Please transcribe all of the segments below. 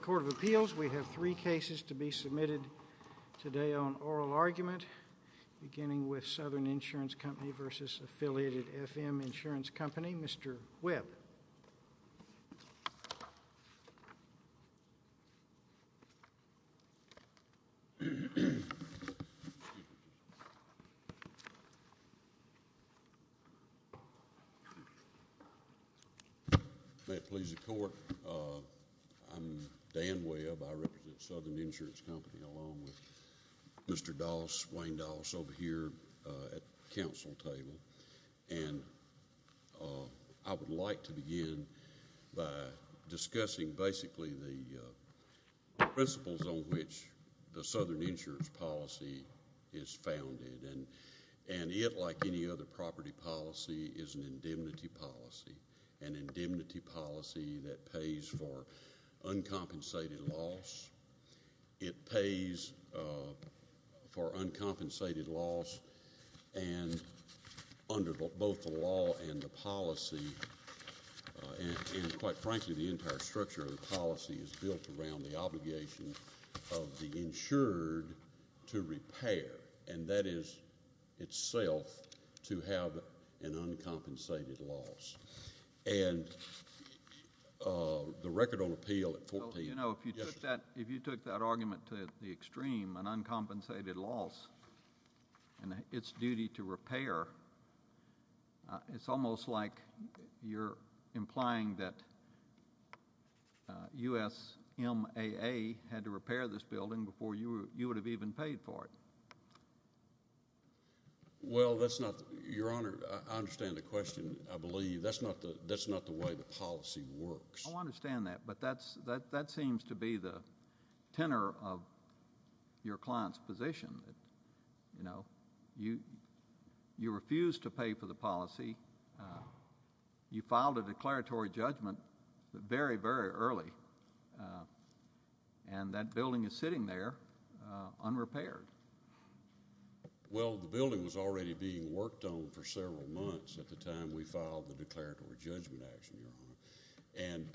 Court of Appeals, we have three cases to be submitted today on oral argument beginning with Southern Insurance Company v. Affiliated FM Insurance Company. Mr. Webb. May it please the court. I'm Dan Webb. I represent Southern Insurance Company along with Mr. Doss, Wayne Doss, over here at the council table. And I would like to begin by discussing basically the principles on which the Southern Insurance Policy is founded. And it, like any other property policy, is an indemnity policy, an indemnity policy that pays for uncompensated loss. It pays for uncompensated loss and under both the law and the policy, and quite frankly the entire structure of the policy is built around the obligation of the insured to repair, and that is itself to have an uncompensated loss. And the record on appeal at 14. Well, you know, if you took that argument to the extreme, an uncompensated loss and its duty to repair, it's almost like you're implying that USMAA had to repair this building before you would have even paid for it. Well, that's not... Your Honor, I understand the question, I believe. That's not the way the policy works. I understand that, but that seems to be the tenor of your client's position. You know, you refused to pay for the policy. You filed a declaratory judgment very, very early, and that building is sitting there unrepaired. Well, the building was already being worked on for several months at the time we filed the declaratory judgment action, Your Honor. And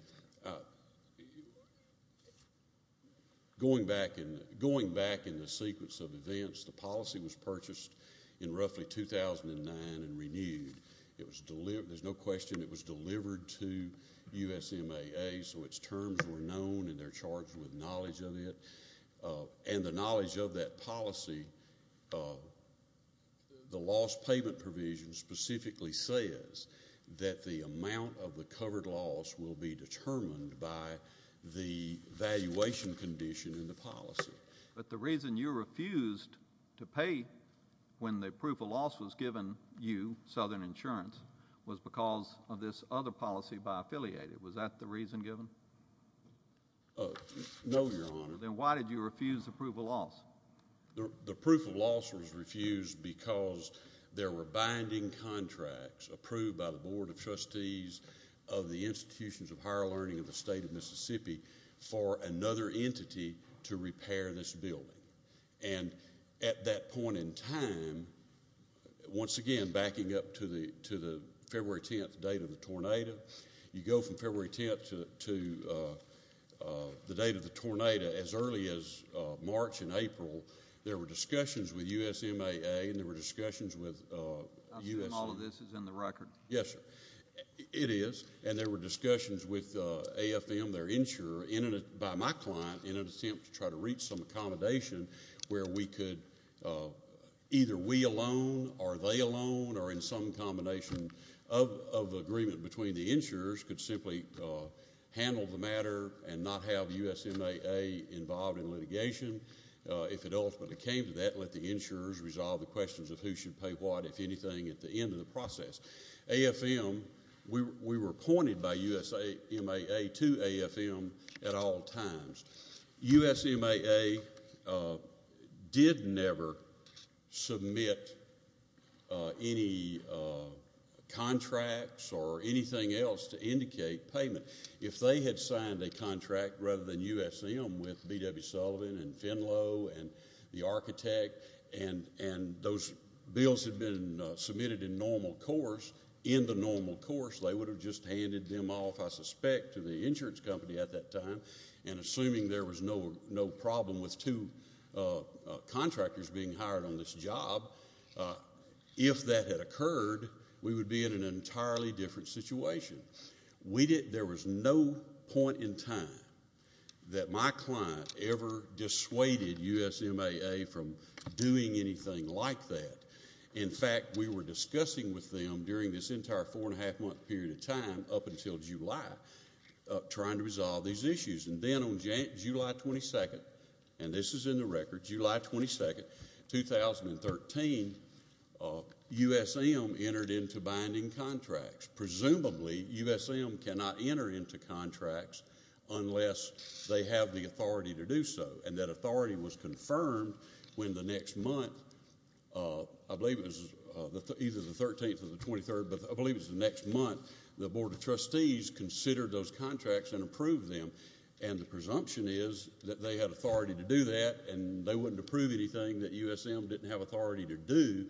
going back in the sequence of events, the policy was purchased in roughly 2009 and renewed. There's no question it was delivered to USMAA, so its terms were known and they're charged with knowledge of it. And the knowledge of that policy, the loss payment provision specifically says that the amount of the covered loss will be determined by the valuation condition in the policy. But the reason you refused to pay when the proof of loss was given you, Southern Insurance, was because of this other policy by Affiliated. Was that the reason given? No, Your Honor. Then why did you refuse the proof of loss? The proof of loss was refused because there were binding contracts approved by the Board of Trustees of the Institutions of Higher Learning of the State of Mississippi for another entity to repair this building. And at that point in time, once again backing up to the February 10th date of the tornado, you go from February 10th to the date of the tornado as early as March and April, there were discussions with USMAA and there were discussions with USA. I assume all of this is in the record. Yes, sir. It is. And there were discussions with AFM, their insurer, by my client in an attempt to try to reach some accommodation where we could either we alone or they alone or in some combination of agreement between the insurers could simply handle the matter and not have USMAA involved in litigation. If it ultimately came to that, let the insurers resolve the questions of who should pay what, if anything, at the end of the process. AFM, we were appointed by USMAA to AFM at all times. USMAA did never submit any contracts or anything else to indicate payment. If they had signed a contract rather than USM with B.W. Sullivan and Finlow and the architect and those bills had been submitted in normal course, in the normal course, they would have just handed them off, I suspect, to the insurance company at that time. And assuming there was no problem with two contractors being hired on this job, if that had occurred, we would be in an entirely different situation. There was no point in time that my client ever dissuaded USMAA from doing anything like that. In fact, we were discussing with them during this entire four-and-a-half-month period of time up until July trying to resolve these issues. And then on July 22nd, and this is in the record, July 22nd, 2013, USM entered into binding contracts. Presumably, USM cannot enter into contracts unless they have the authority to do so. And that authority was confirmed when the next month, I believe it was either the 13th or the 23rd, but I believe it was the next month, the Board of Trustees considered those contracts and approved them. And the presumption is that they had authority to do that and they wouldn't approve anything that USM didn't have authority to do.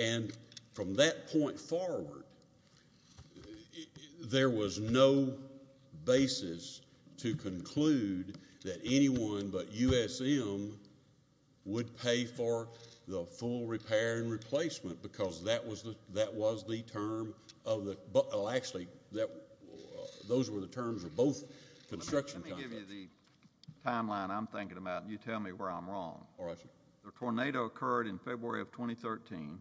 And from that point forward, there was no basis to conclude that anyone but USM would pay for the full repair and replacement because that was the term of the, well, actually, those were the terms of both construction contracts. Let me give you the timeline I'm thinking about and you tell me where I'm wrong. All right, sir. The tornado occurred in February of 2013.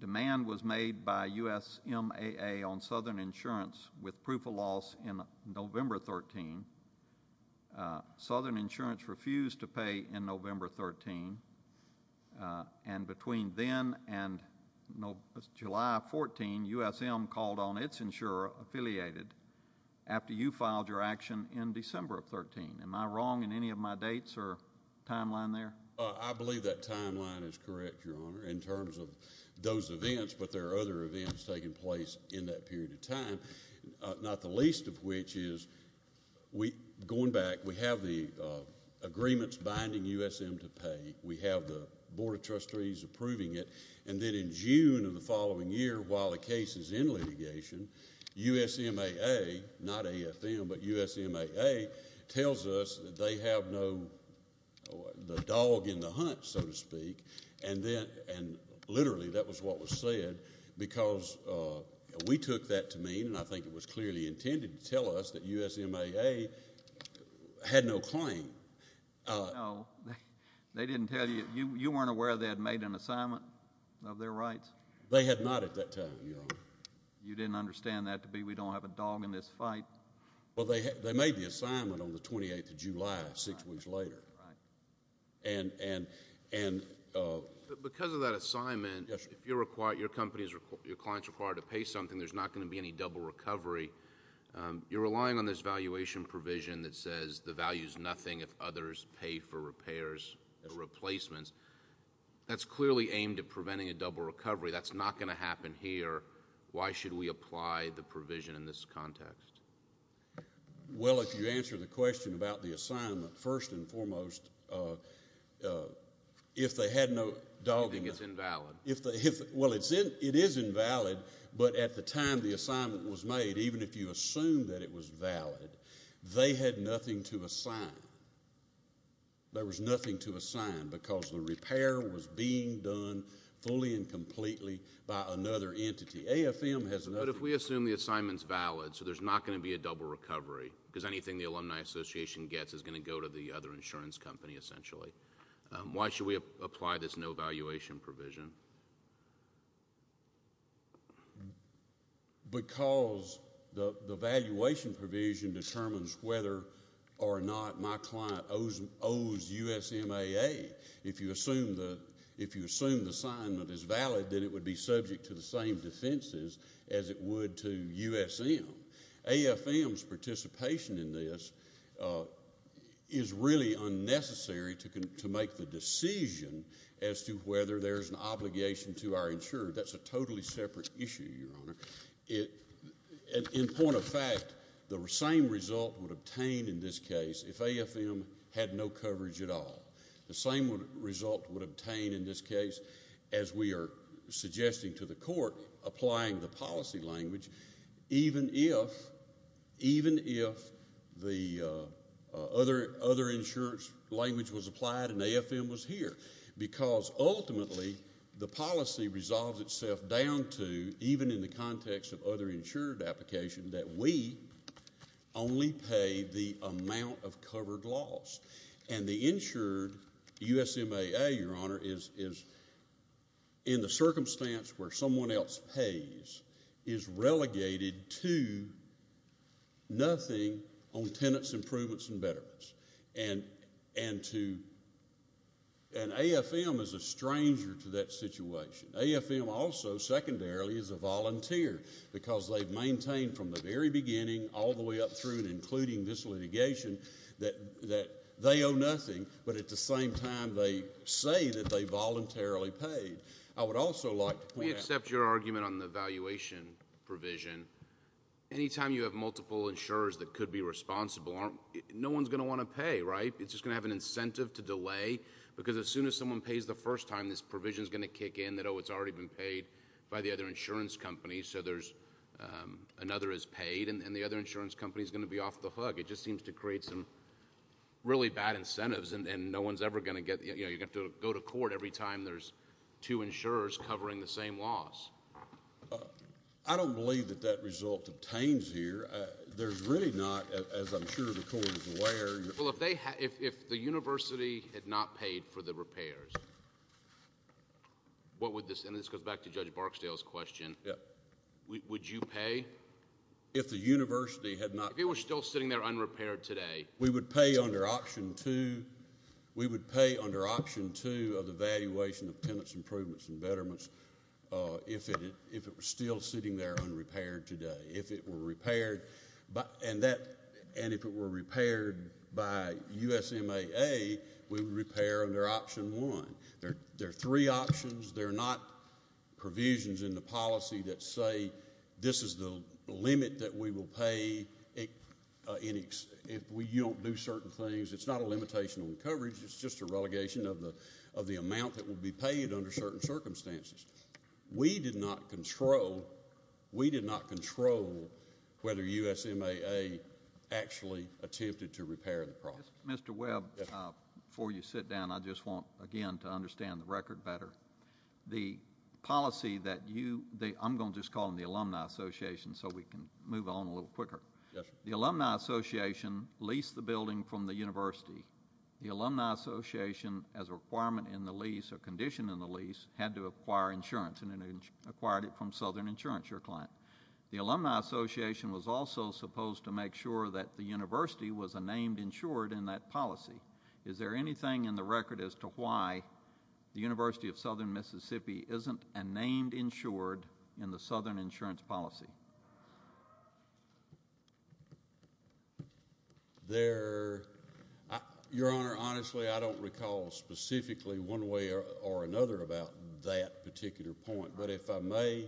Demand was made by USMAA on Southern Insurance with proof of loss in November 13. Southern Insurance refused to pay in November 13. And between then and July 14, USM called on its insurer affiliated after you filed your action in December of 13. Am I wrong in any of my dates or timeline there? I believe that timeline is correct, Your Honor, in terms of those events, but there are other events taking place in that period of time, not the least of which is going back, we have the agreements binding USM to pay. We have the Board of Trustees approving it. And then in June of the following year, while the case is in litigation, USMAA, not AFM, but USMAA, tells us that they have the dog in the hunt, so to speak, and literally that was what was said because we took that to mean, and I think it was clearly intended to tell us, that USMAA had no claim. No, they didn't tell you. You weren't aware they had made an assignment of their rights? They had not at that time, Your Honor. You didn't understand that to be we don't have a dog in this fight? Well, they made the assignment on the 28th of July, six weeks later. Because of that assignment, if your client is required to pay something, there's not going to be any double recovery. You're relying on this valuation provision that says the value is nothing if others pay for repairs or replacements. That's clearly aimed at preventing a double recovery. That's not going to happen here. Why should we apply the provision in this context? Well, if you answer the question about the assignment, first and foremost, if they had no dog in the hunt. It's invalid. Well, it is invalid, but at the time the assignment was made, even if you assumed that it was valid, they had nothing to assign. There was nothing to assign because the repair was being done fully and completely by another entity. AFM has another. But if we assume the assignment's valid, so there's not going to be a double recovery, because anything the Alumni Association gets is going to go to the other insurance company, essentially. Why should we apply this no valuation provision? Because the valuation provision determines whether or not my client owes USMAA. If you assume the assignment is valid, then it would be subject to the same defenses as it would to USM. AFM's participation in this is really unnecessary to make the decision as to whether there's an obligation to our insurer. That's a totally separate issue, Your Honor. In point of fact, the same result would obtain in this case if AFM had no coverage at all. The same result would obtain in this case as we are suggesting to the court, applying the policy language, even if the other insurance language was applied and AFM was here. Because ultimately, the policy resolves itself down to, even in the context of other insured application, that we only pay the amount of covered loss. And the insured USMAA, Your Honor, is in the circumstance where someone else pays, is relegated to nothing on tenants improvements and betterments. And AFM is a stranger to that situation. AFM also, secondarily, is a volunteer, because they've maintained from the very beginning, all the way up through and including this litigation, that they owe nothing, but at the same time, they say that they voluntarily paid. I would also like to point out- We accept your argument on the valuation provision. Anytime you have multiple insurers that could be responsible, no one's going to want to pay, right? It's just going to have an incentive to delay, because as soon as someone pays the first time, this provision's going to kick in that, oh, it's already been paid by the other insurance company, so another is paid, and the other insurance company's going to be off the hook. It just seems to create some really bad incentives, and no one's ever going to get... You're going to have to go to court every time there's two insurers covering the same loss. I don't believe that that result obtains here. There's really not, as I'm sure the court is aware. Well, if the university had not paid for the repairs, what would this... And this goes back to Judge Barksdale's question. Would you pay? If the university had not... If it were still sitting there unrepaired today. We would pay under Option 2. We would pay under Option 2 of the valuation of tenants' improvements and betterments if it were still sitting there unrepaired today. If it were repaired by USMAA, we would repair under Option 1. There are three options. They're not provisions in the policy that say this is the limit that we will pay if we don't do certain things. It's not a limitation on coverage. It's just a relegation of the amount that will be paid under certain circumstances. We did not control whether USMAA actually attempted to repair the property. Mr. Webb, before you sit down, I just want, again, to understand the record better. The policy that you... I'm going to just call them the Alumni Association so we can move on a little quicker. The Alumni Association leased the building from the university. The Alumni Association, as a requirement in the lease or condition in the lease, had to acquire insurance. And it acquired it from Southern Insurance, your client. The Alumni Association was also supposed to make sure that the university was a named insured in that policy. Is there anything in the record as to why the University of Southern Mississippi isn't a named insured in the Southern Insurance policy? Your Honor, honestly, I don't recall specifically one way or another about that particular point. But if I may,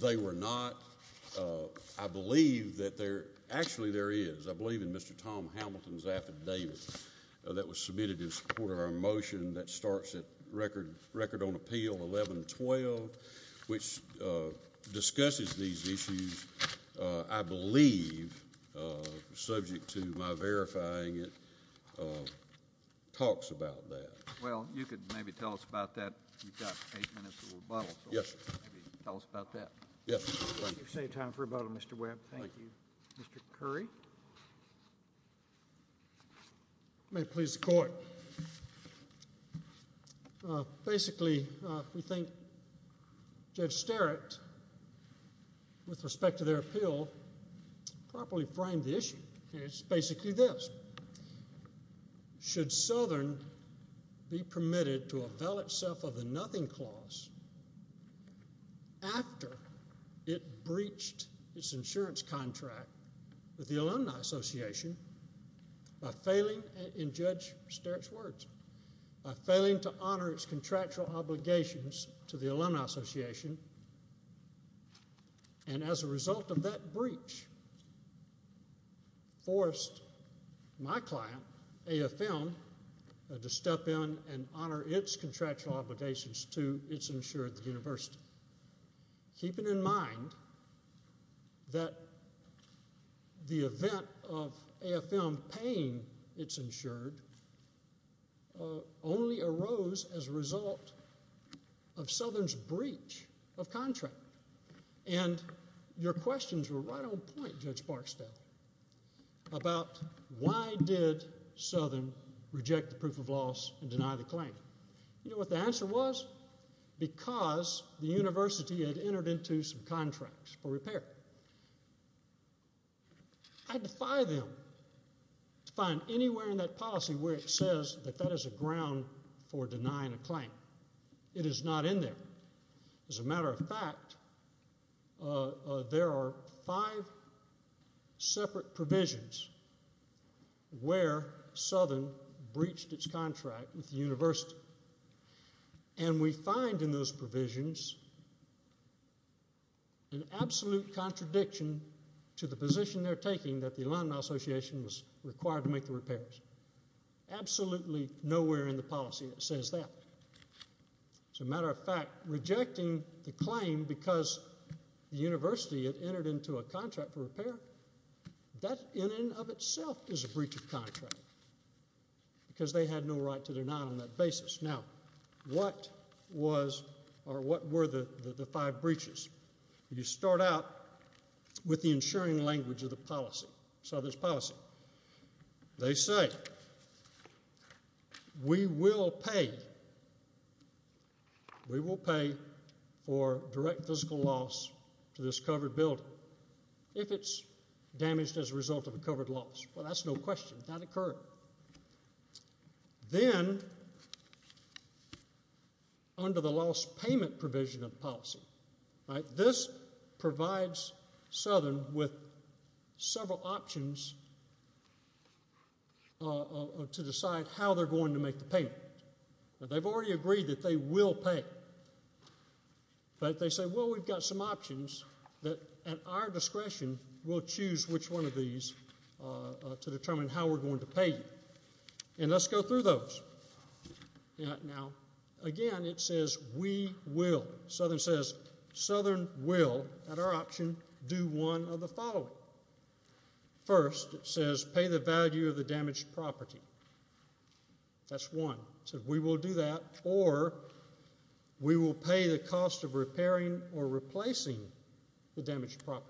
they were not... I believe that there... Actually, there is. I believe in Mr. Tom Hamilton's affidavit that was submitted in support of our motion that starts at Record on Appeal 1112, which discusses these issues, I believe, subject to my verifying it, talks about that. Well, you could maybe tell us about that. You've got eight minutes of rebuttal. Yes, sir. Tell us about that. Yes, sir. You've saved time for rebuttal, Mr. Webb. Thank you. Mr. Curry. May it please the Court. Basically, we think Judge Sterritt, with respect to their appeal, properly framed the issue. It's basically this. Should Southern be permitted to avail itself of the Nothing Clause after it breached its insurance contract with the Alumni Association by failing... And, Judge Sterritt's words, by failing to honor its contractual obligations to the Alumni Association, and as a result of that breach, forced my client, AFM, to step in and honor its contractual obligations to its insured university. Keeping in mind that the event of AFM paying its insured, only arose as a result of Southern's breach of contract. And, your questions were right on point, Judge Barksdale, about why did Southern reject the proof of loss and deny the claim. You know what the answer was? Because the university had entered into some contracts for repair. I defy them to find anywhere in that policy where it says that that is a ground for denying a claim. It is not in there. As a matter of fact, there are five separate provisions where Southern breached its contract with the university. And, we find in those provisions an absolute contradiction to the position they're taking that the Alumni Association was required to make the repairs. Absolutely nowhere in the policy that says that. As a matter of fact, rejecting the claim because the university had entered into a contract for repair, that in and of itself is a breach of contract. Because they had no right to deny on that basis. Now, what was or what were the five breaches? You start out with the insuring language of the policy, Southern's policy. They say, we will pay for direct physical loss to this covered building if it's damaged as a result of a covered loss. Well, that's no question. That occurred. Then, under the loss payment provision of the policy, this provides Southern with several options to decide how they're going to make the payment. They've already agreed that they will pay. But, they say, well, we've got some options that, at our discretion, we'll choose which one of these to determine how we're going to pay you. And, let's go through those. Now, again, it says, we will. Southern says, Southern will, at our option, do one of the following. First, it says, pay the value of the damaged property. That's one. It says, we will do that, or we will pay the cost of repairing or replacing the damaged property.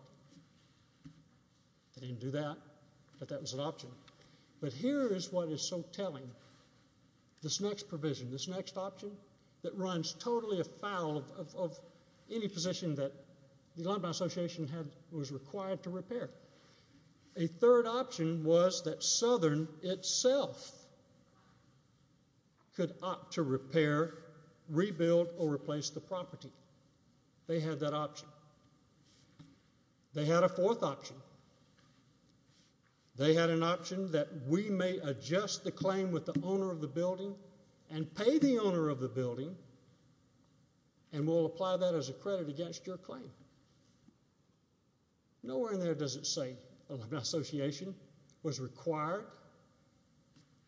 They didn't do that, but that was an option. But, here is what is so telling. This next provision, this next option that runs totally afoul of any position that the Alumni Association was required to repair. A third option was that Southern itself could opt to repair, rebuild, or replace the property. They had that option. They had a fourth option. They had an option that we may adjust the claim with the owner of the building and pay the owner of the building, and we'll apply that as a credit against your claim. Nowhere in there does it say Alumni Association was required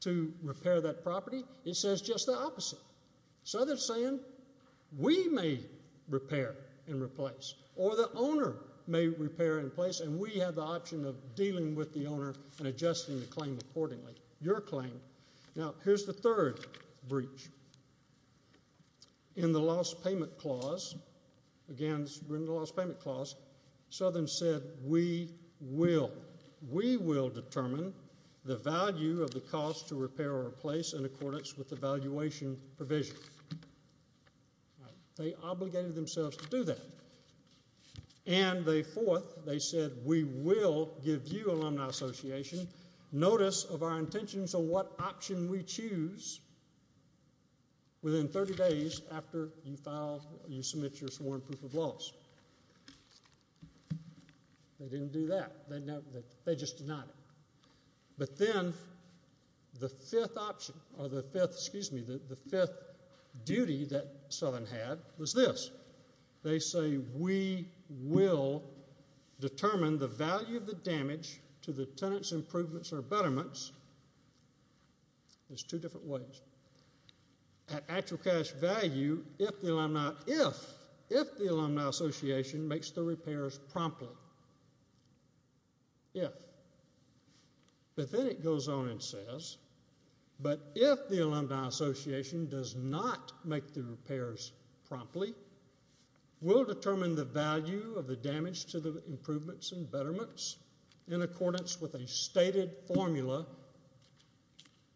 to repair that property. It says just the opposite. Southern is saying, we may repair and replace, or the owner may repair and replace, and we have the option of dealing with the owner and adjusting the claim accordingly, your claim. Now, here's the third breach. In the Lost Payment Clause, again, it's written in the Lost Payment Clause, Southern said, we will. We will determine the value of the cost to repair or replace in accordance with the valuation provision. They obligated themselves to do that. And the fourth, they said, we will give you, Alumni Association, notice of our intentions on what option we choose within 30 days after you submit your sworn proof of loss. They didn't do that. They just denied it. But then the fifth option, or the fifth, excuse me, the fifth duty that Southern had was this. They say, we will determine the value of the damage to the tenant's improvements or betterments. There's two different ways. At actual cash value, if the Alumni Association makes the repairs promptly. If. But then it goes on and says, but if the Alumni Association does not make the repairs promptly, we'll determine the value of the damage to the improvements and betterments in accordance with a stated formula.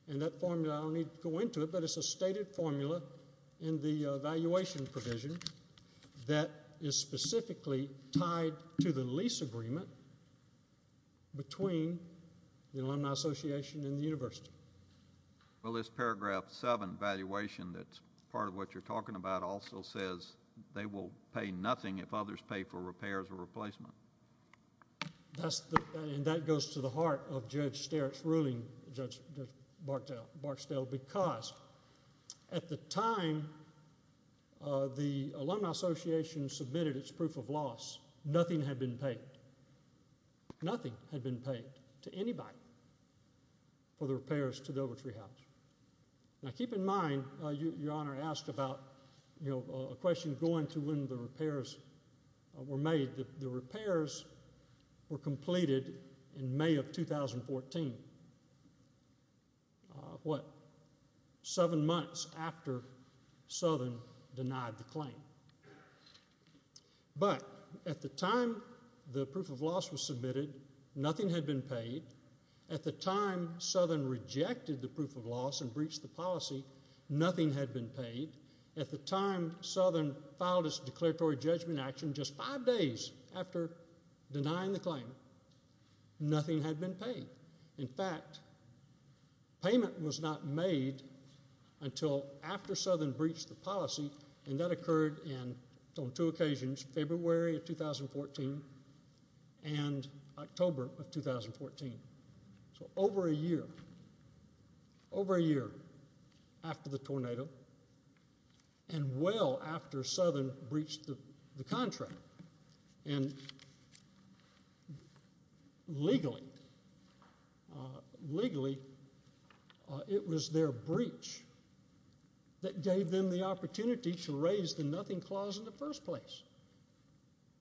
And that formula, I don't need to go into it, but it's a stated formula in the valuation provision that is specifically tied to the lease agreement between the Alumni Association and the university. Well, this paragraph seven valuation that's part of what you're talking about also says they will pay nothing if others pay for repairs or replacement. And that goes to the heart of Judge Starrick's ruling, Judge Barksdale, because at the time the Alumni Association submitted its proof of loss, nothing had been paid. Nothing had been paid to anybody for the repairs to the Overtree House. Now keep in mind, Your Honor, I asked about a question going to when the repairs were made. The repairs were completed in May of 2014, what, seven months after Southern denied the claim. But at the time the proof of loss was submitted, nothing had been paid. At the time Southern rejected the proof of loss and breached the policy, nothing had been paid. At the time Southern filed its declaratory judgment action just five days after denying the claim, nothing had been paid. In fact, payment was not made until after Southern breached the policy, and that occurred on two occasions, February of 2014 and October of 2014. So over a year, over a year after the tornado and well after Southern breached the contract. And legally, legally it was their breach that gave them the opportunity to raise the nothing clause in the first place.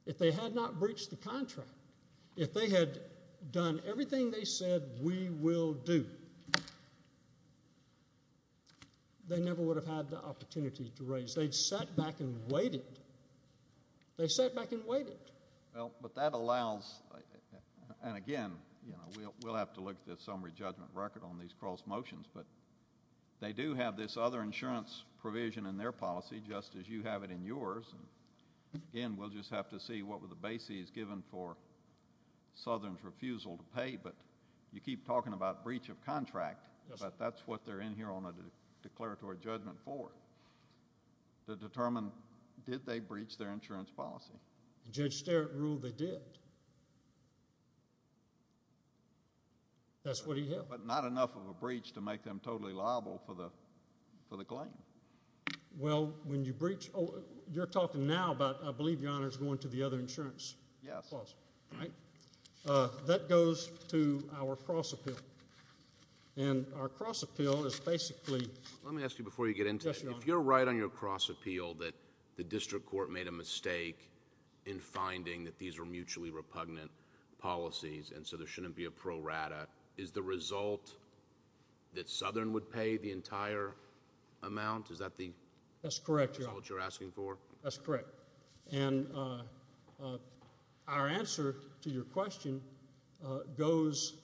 If they had not breached the contract, if they had done everything they said we will do, they never would have had the opportunity to raise. They'd sat back and waited. They sat back and waited. Well, but that allows, and again, you know, we'll have to look at the summary judgment record on these cross motions, but they do have this other insurance provision in their policy just as you have it in yours. Again, we'll just have to see what were the bases given for Southern's refusal to pay, but you keep talking about breach of contract, but that's what they're in here on a declaratory judgment for, to determine did they breach their insurance policy. Judge Sterrett ruled they did. That's what he held. But not enough of a breach to make them totally liable for the claim. Well, when you breach, you're talking now about I believe your Honor is going to the other insurance clause. Yes. All right. That goes to our cross appeal. And our cross appeal is basically. Let me ask you before you get into it. Yes, Your Honor. If you're right on your cross appeal that the district court made a mistake in finding that these were mutually repugnant policies and so there shouldn't be a pro rata, is the result that Southern would pay the entire amount? Is that the. That's correct, Your Honor. Is that what you're asking for? That's correct. And our answer to your question goes,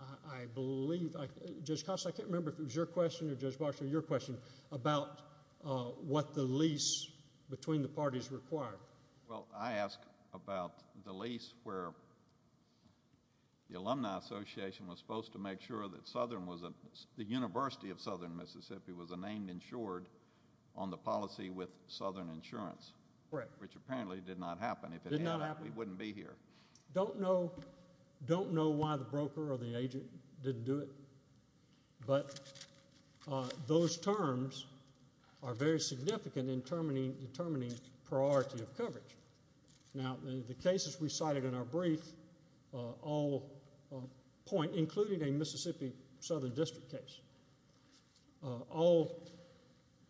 I believe. Judge Costa, I can't remember if it was your question or Judge Bosh or your question, about what the lease between the parties required. Well, I asked about the lease where the Alumni Association was supposed to make sure that Southern was, the University of Southern Mississippi was named insured on the policy with Southern Insurance. Correct. Which apparently did not happen. It did not happen. We wouldn't be here. Don't know, don't know why the broker or the agent didn't do it. But those terms are very significant in determining priority of coverage. Now, the cases we cited in our brief all point, including a Mississippi Southern District case, all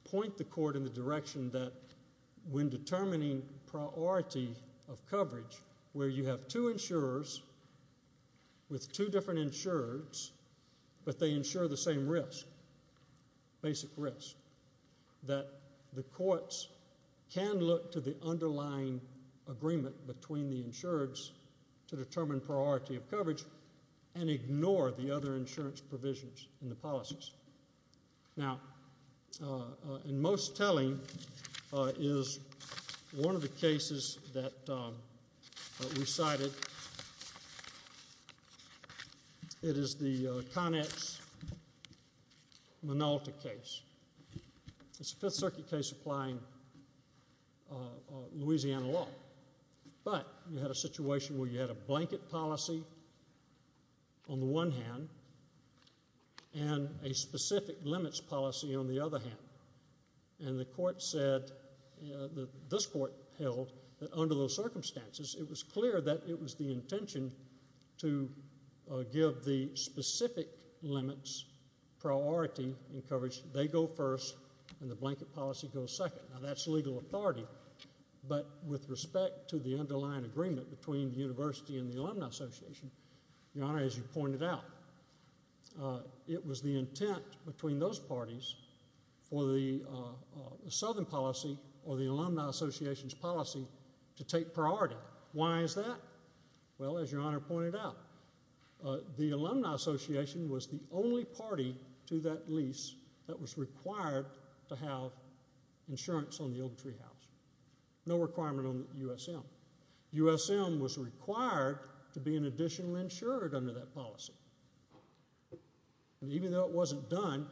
point the court in the direction that when determining priority of coverage where you have two insurers with two different insurers, but they insure the same risk, basic risk, that the courts can look to the underlying agreement between the insurers to determine priority of coverage and ignore the other insurance provisions in the policies. Now, in most telling is one of the cases that we cited. It is the Connex-Minolta case. It's a Fifth Circuit case applying Louisiana law, but you had a situation where you had a blanket policy on the one hand and a specific limits policy on the other hand. And the court said, this court held, that under those circumstances, it was clear that it was the intention to give the specific limits priority in coverage. They go first and the blanket policy goes second. Now, that's legal authority. But with respect to the underlying agreement between the university and the Alumni Association, Your Honor, as you pointed out, it was the intent between those parties for the Southern policy or the Alumni Association's policy to take priority. Why is that? Well, as Your Honor pointed out, the Alumni Association was the only party to that lease that was required to have insurance on the Ogletree House. No requirement on USM. USM was required to be an additional insured under that policy. And even though it wasn't done,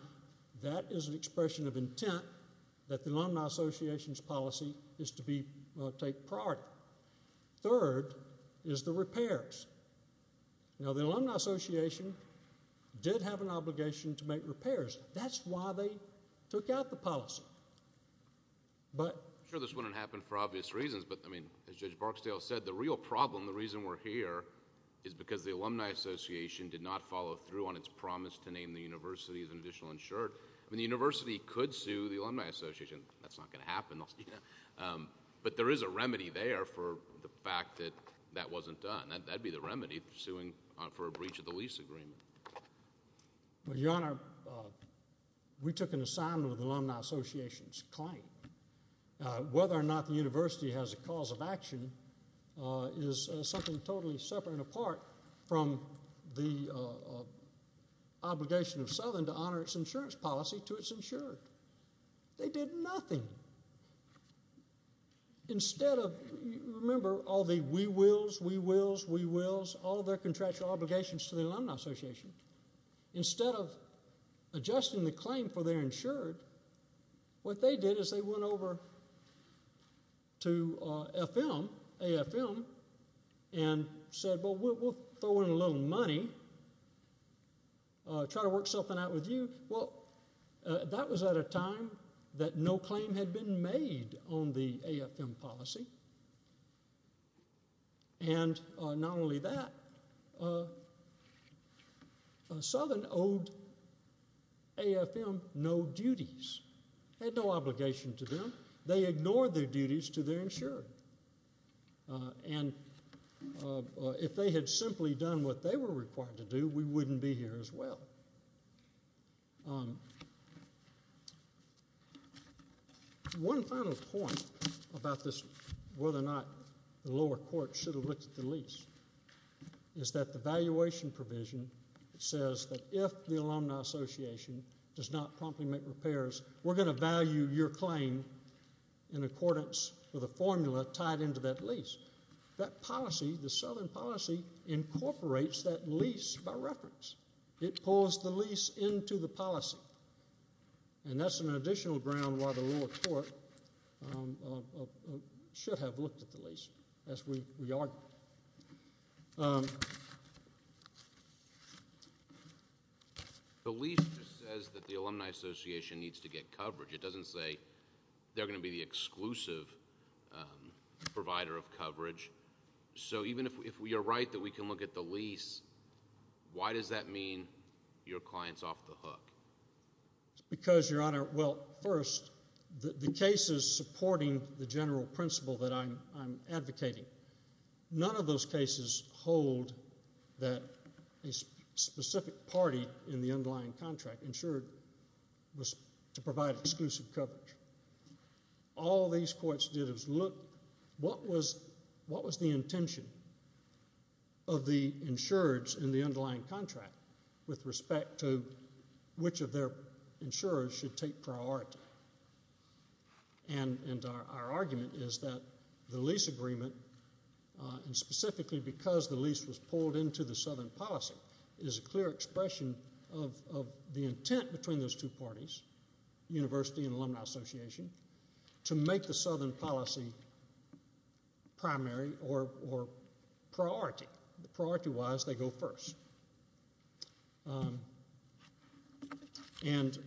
that is an expression of intent that the Alumni Association's policy is to take priority. Third is the repairs. Now, the Alumni Association did have an obligation to make repairs. That's why they took out the policy. I'm sure this wouldn't happen for obvious reasons. But, I mean, as Judge Barksdale said, the real problem, the reason we're here, is because the Alumni Association did not follow through on its promise to name the university as an additional insured. I mean, the university could sue the Alumni Association. That's not going to happen. But there is a remedy there for the fact that that wasn't done. That would be the remedy for suing for a breach of the lease agreement. Your Honor, we took an assignment with the Alumni Association's claim. Whether or not the university has a cause of action is something totally separate and apart from the obligation of Southern to honor its insurance policy to its insured. They did nothing. Instead of, remember, all the we wills, we wills, we wills, all their contractual obligations to the Alumni Association, instead of adjusting the claim for their insured, what they did is they went over to AFM and said, well, we'll throw in a little money, try to work something out with you. Well, that was at a time that no claim had been made on the AFM policy. And not only that, Southern owed AFM no duties. It had no obligation to them. They ignored their duties to their insured. And if they had simply done what they were required to do, we wouldn't be here as well. One final point about whether or not the lower court should have looked at the lease is that the valuation provision says that if the Alumni Association does not promptly make repairs, we're going to value your claim in accordance with a formula tied into that lease. That policy, the Southern policy, incorporates that lease by reference. It pulls the lease into the policy. And that's an additional ground why the lower court should have looked at the lease, as we argued. The lease says that the Alumni Association needs to get coverage. It doesn't say they're going to be the exclusive provider of coverage. So even if you're right that we can look at the lease, why does that mean your client's off the hook? Because, Your Honor, well, first, the cases supporting the general principle that I'm advocating, none of those cases hold that a specific party in the underlying contract insured was to provide exclusive coverage. All these courts did was look what was the intention of the insurers in the underlying contract with respect to which of their insurers should take priority. And our argument is that the lease agreement, and specifically because the lease was pulled into the Southern policy, University and Alumni Association, to make the Southern policy primary or priority. Priority-wise, they go first. And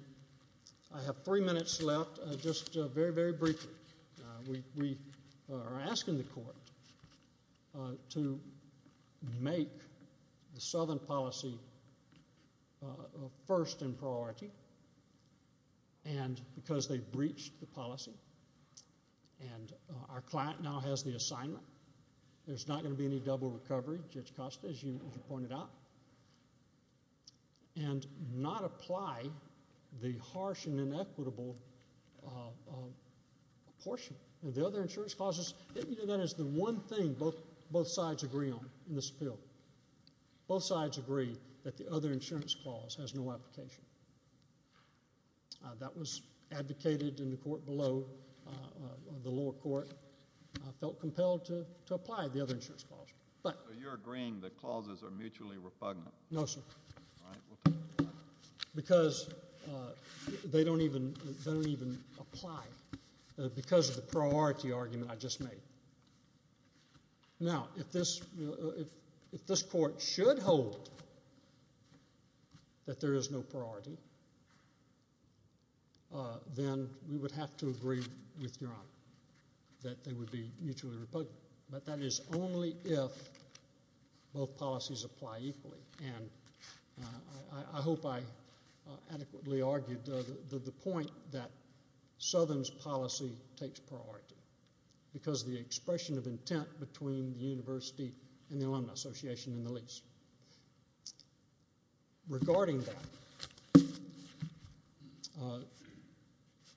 I have three minutes left. Just very, very briefly, we are asking the court to make the Southern policy first in priority, and because they've breached the policy, and our client now has the assignment, there's not going to be any double recovery, Judge Costa, as you pointed out, and not apply the harsh and inequitable portion. The other insurance clauses, that is the one thing both sides agree on in this bill. Both sides agree that the other insurance clause has no application. That was advocated in the court below, the lower court, felt compelled to apply the other insurance clause. So you're agreeing that clauses are mutually repugnant? No, sir. Because they don't even apply because of the priority argument I just made. Now, if this court should hold that there is no priority, then we would have to agree with your honor that they would be mutually repugnant. But that is only if both policies apply equally, and I hope I adequately argued the point that Southern's policy takes priority because of the expression of intent between the university and the Alumni Association in the least. Regarding that.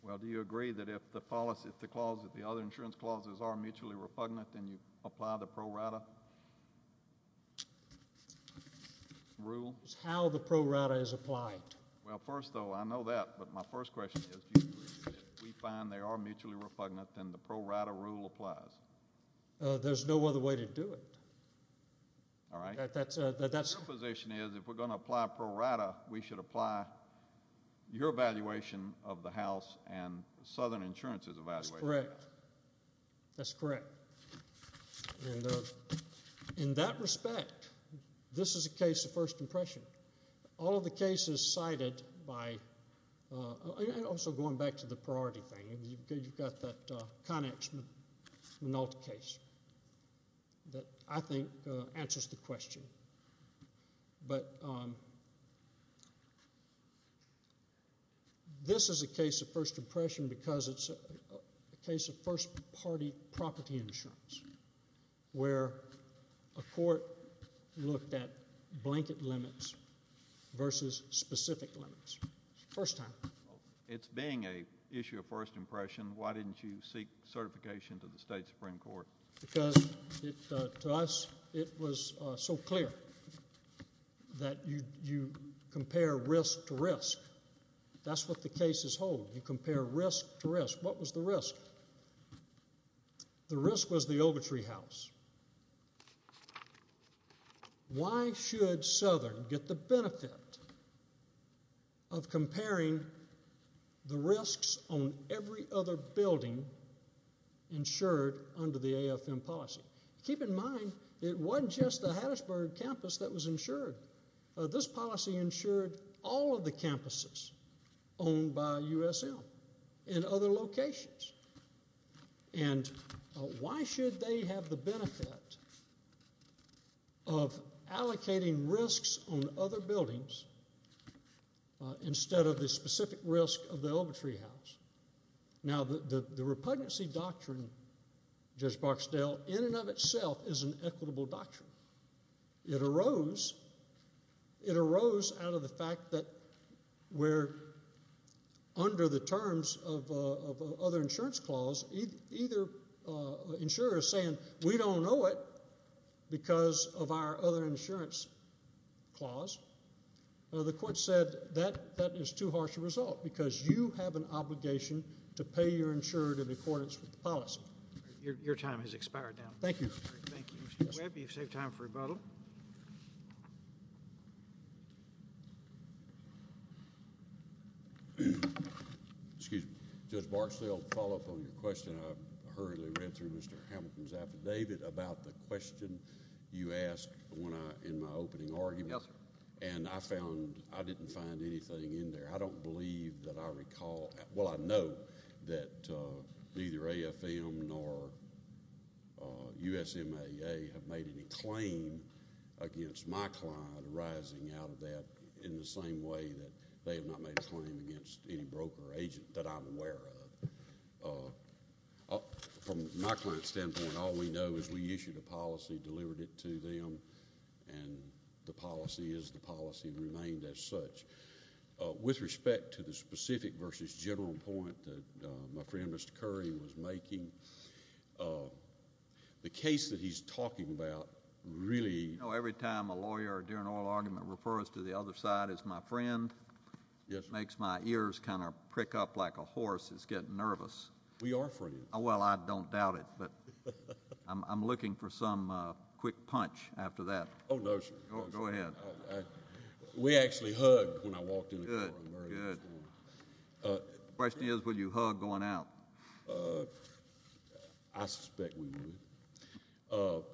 Well, do you agree that if the policy, if the clause, if the other insurance clauses are mutually repugnant, then you apply the pro rata rule? It's how the pro rata is applied. Well, first, though, I know that, but my first question is, if we find they are mutually repugnant, then the pro rata rule applies. There's no other way to do it. All right. Your position is if we're going to apply pro rata, we should apply your evaluation of the House and Southern Insurance's evaluation. That's correct. That's correct. In that respect, this is a case of first impression. All of the cases cited by, and also going back to the priority thing, you've got that Connex Minolta case that I think answers the question. But this is a case of first impression because it's a case of first party property insurance where a court looked at blanket limits versus specific limits. First time. It's being an issue of first impression, why didn't you seek certification to the state Supreme Court? Because to us it was so clear that you compare risk to risk. That's what the cases hold. You compare risk to risk. What was the risk? The risk was the Ogletree House. Why should Southern get the benefit of comparing the risks on every other building insured under the AFM policy? Keep in mind it wasn't just the Hattiesburg campus that was insured. This policy insured all of the campuses owned by USM in other locations. And why should they have the benefit of allocating risks on other buildings instead of the specific risk of the Ogletree House? Now the repugnancy doctrine, Judge Barksdale, in and of itself is an equitable doctrine. It arose out of the fact that we're under the terms of other insurance clause. Either insurer is saying we don't know it because of our other insurance clause. The court said that is too harsh a result because you have an obligation to pay your insurer in accordance with the policy. Your time has expired now. Thank you. Thank you, Mr. Webb. You've saved time for rebuttal. Excuse me. Judge Barksdale, follow-up on your question. I hurriedly read through Mr. Hamilton's affidavit about the question you asked in my opening argument. Yes, sir. And I found I didn't find anything in there. I don't believe that I recall—well, I know that neither AFM nor USMAA have made any claim against my client arising out of that in the same way that they have not made a claim against any broker or agent that I'm aware of. From my client's standpoint, all we know is we issued a policy, delivered it to them, and the policy is the policy and remained as such. With respect to the specific versus general point that my friend Mr. Curry was making, the case that he's talking about really— You know, every time a lawyer during an oral argument refers to the other side as my friend, it makes my ears kind of prick up like a horse. It's getting nervous. We are friends. Well, I don't doubt it, but I'm looking for some quick punch after that. Oh, no, sir. Go ahead. We actually hugged when I walked in the courtroom. Good, good. The question is would you hug going out? I suspect we would.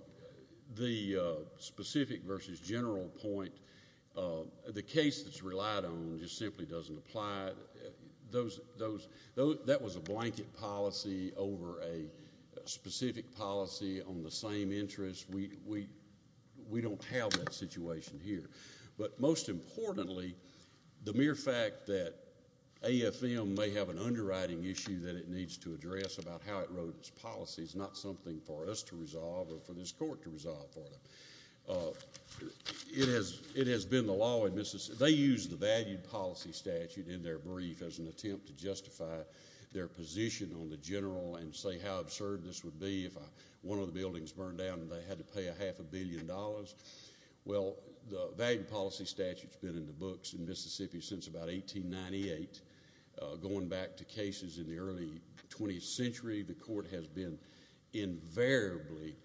The specific versus general point, the case that's relied on just simply doesn't apply. That was a blanket policy over a specific policy on the same interest. We don't have that situation here. But most importantly, the mere fact that AFM may have an underwriting issue that it needs to address about how it wrote its policies, not something for us to resolve or for this court to resolve for them. It has been the law. They used the valued policy statute in their brief as an attempt to justify their position on the general and say how absurd this would be if one of the buildings burned down and they had to pay a half a billion dollars. Well, the valued policy statute has been in the books in Mississippi since about 1898. Going back to cases in the early 20th century, the court has been invariably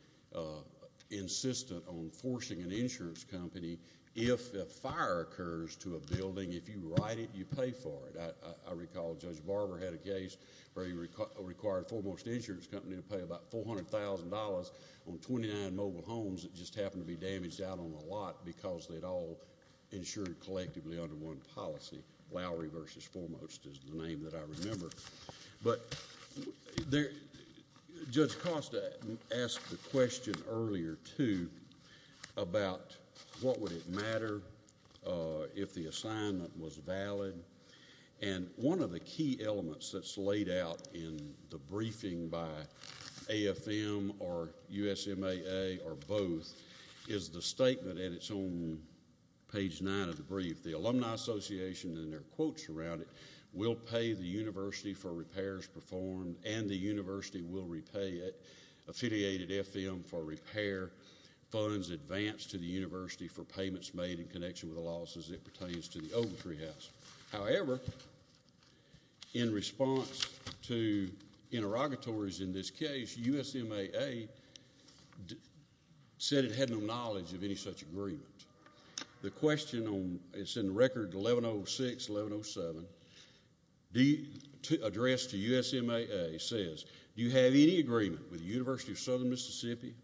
insistent on forcing an insurance company, if a fire occurs to a building, if you write it, you pay for it. I recall Judge Barber had a case where he required Foremost Insurance Company to pay about $400,000 on 29 mobile homes that just happened to be damaged out on a lot because they'd all insured collectively under one policy. Lowry v. Foremost is the name that I remember. But Judge Costa asked the question earlier, too, about what would it matter if the assignment was valid. And one of the key elements that's laid out in the briefing by AFM or USMAA or both is the statement at its own page 9 of the brief, the Alumni Association and their quotes around it, will pay the university for repairs performed and the university will repay it, affiliated AFM for repair funds advanced to the university for payments made in connection with the losses that pertains to the old treehouse. However, in response to interrogatories in this case, USMAA said it had no knowledge of any such agreement. The question is in Record 1106-1107, addressed to USMAA, says, Do you have any agreement with the University of Southern Mississippi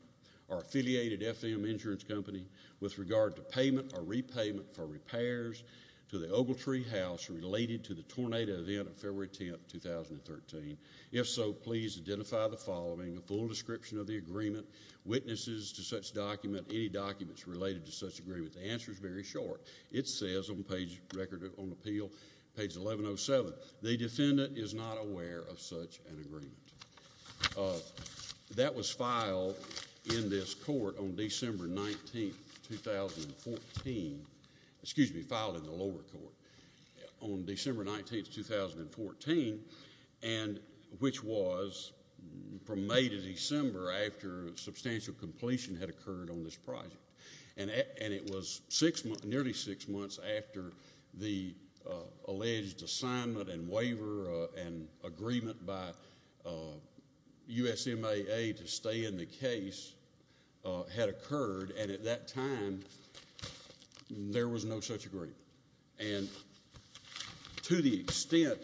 or affiliated AFM Insurance Company with regard to payment or repayment for repairs to the Ogletree House related to the tornado event of February 10, 2013? If so, please identify the following, a full description of the agreement, witnesses to such document, any documents related to such agreement. The answer is very short. It says on Page 1107, The defendant is not aware of such an agreement. That was filed in this court on December 19, 2014. Excuse me, filed in the lower court on December 19, 2014, which was from May to December after substantial completion had occurred on this project. And it was nearly six months after the alleged assignment and waiver and agreement by USMAA to stay in the case had occurred. And at that time, there was no such agreement. And to the extent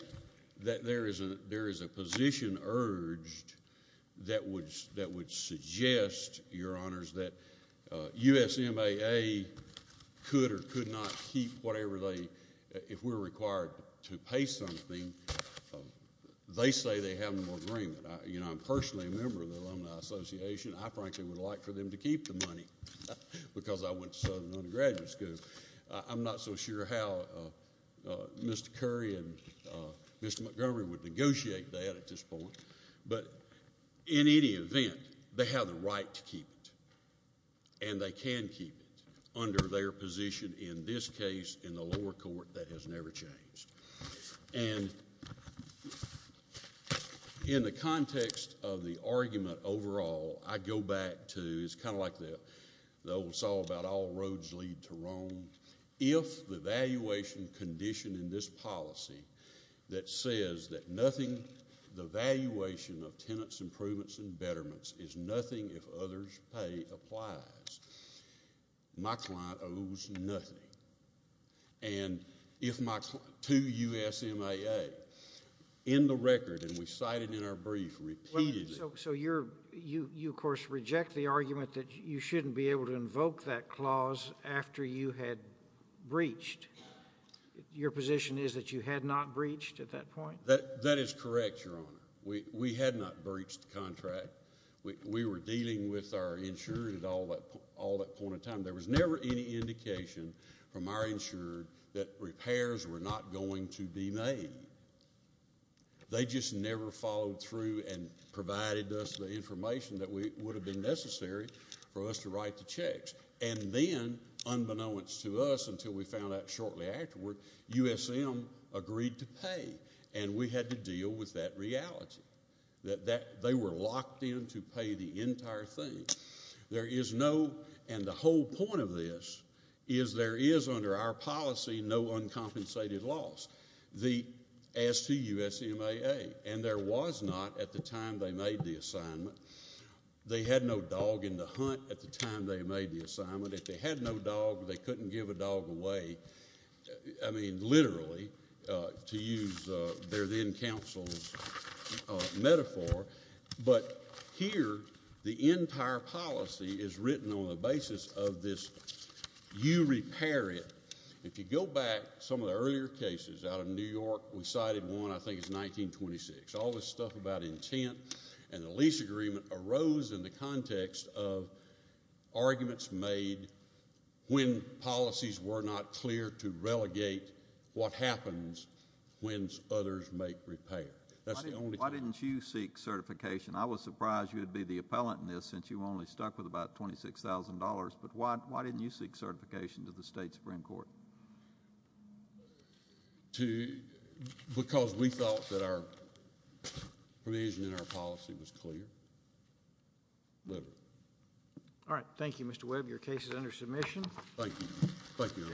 that there is a position urged that would suggest, Your Honors, that USMAA could or could not keep whatever they, if we're required to pay something, they say they have no agreement. You know, I'm personally a member of the Alumni Association. I frankly would like for them to keep the money because I went to Southern Undergraduate School. I'm not so sure how Mr. Curry and Mr. Montgomery would negotiate that at this point. But in any event, they have the right to keep it. And they can keep it under their position in this case in the lower court. That has never changed. And in the context of the argument overall, I go back to, it's kind of like the old song about all roads lead to Rome. If the valuation condition in this policy that says that nothing, the valuation of tenants' improvements and betterments is nothing if others' pay applies, my client owes nothing. And if my, to USMAA, in the record, and we cited in our brief repeatedly. So you, of course, reject the argument that you shouldn't be able to invoke that clause after you had breached. Your position is that you had not breached at that point? That is correct, Your Honor. We had not breached the contract. We were dealing with our insurance at all that point in time. There was never any indication from our insurer that repairs were not going to be made. They just never followed through and provided us the information that would have been necessary for us to write the checks. And then, unbeknownst to us until we found out shortly afterward, USM agreed to pay. And we had to deal with that reality, that they were locked in to pay the entire thing. There is no, and the whole point of this is there is under our policy no uncompensated loss, as to USMAA. And there was not at the time they made the assignment. They had no dog in the hunt at the time they made the assignment. If they had no dog, they couldn't give a dog away, I mean literally, to use their then counsel's metaphor. But here, the entire policy is written on the basis of this, you repair it. If you go back, some of the earlier cases out of New York, we cited one, I think it's 1926. All this stuff about intent and the lease agreement arose in the context of arguments made when policies were not clear to relegate what happens when others make repair. Why didn't you seek certification? I was surprised you would be the appellant in this since you only stuck with about $26,000. But why didn't you seek certification to the State Supreme Court? Because we thought that our provision in our policy was clear. Whatever. All right, thank you Mr. Webb. Your case is under submission. Thank you. Thank you.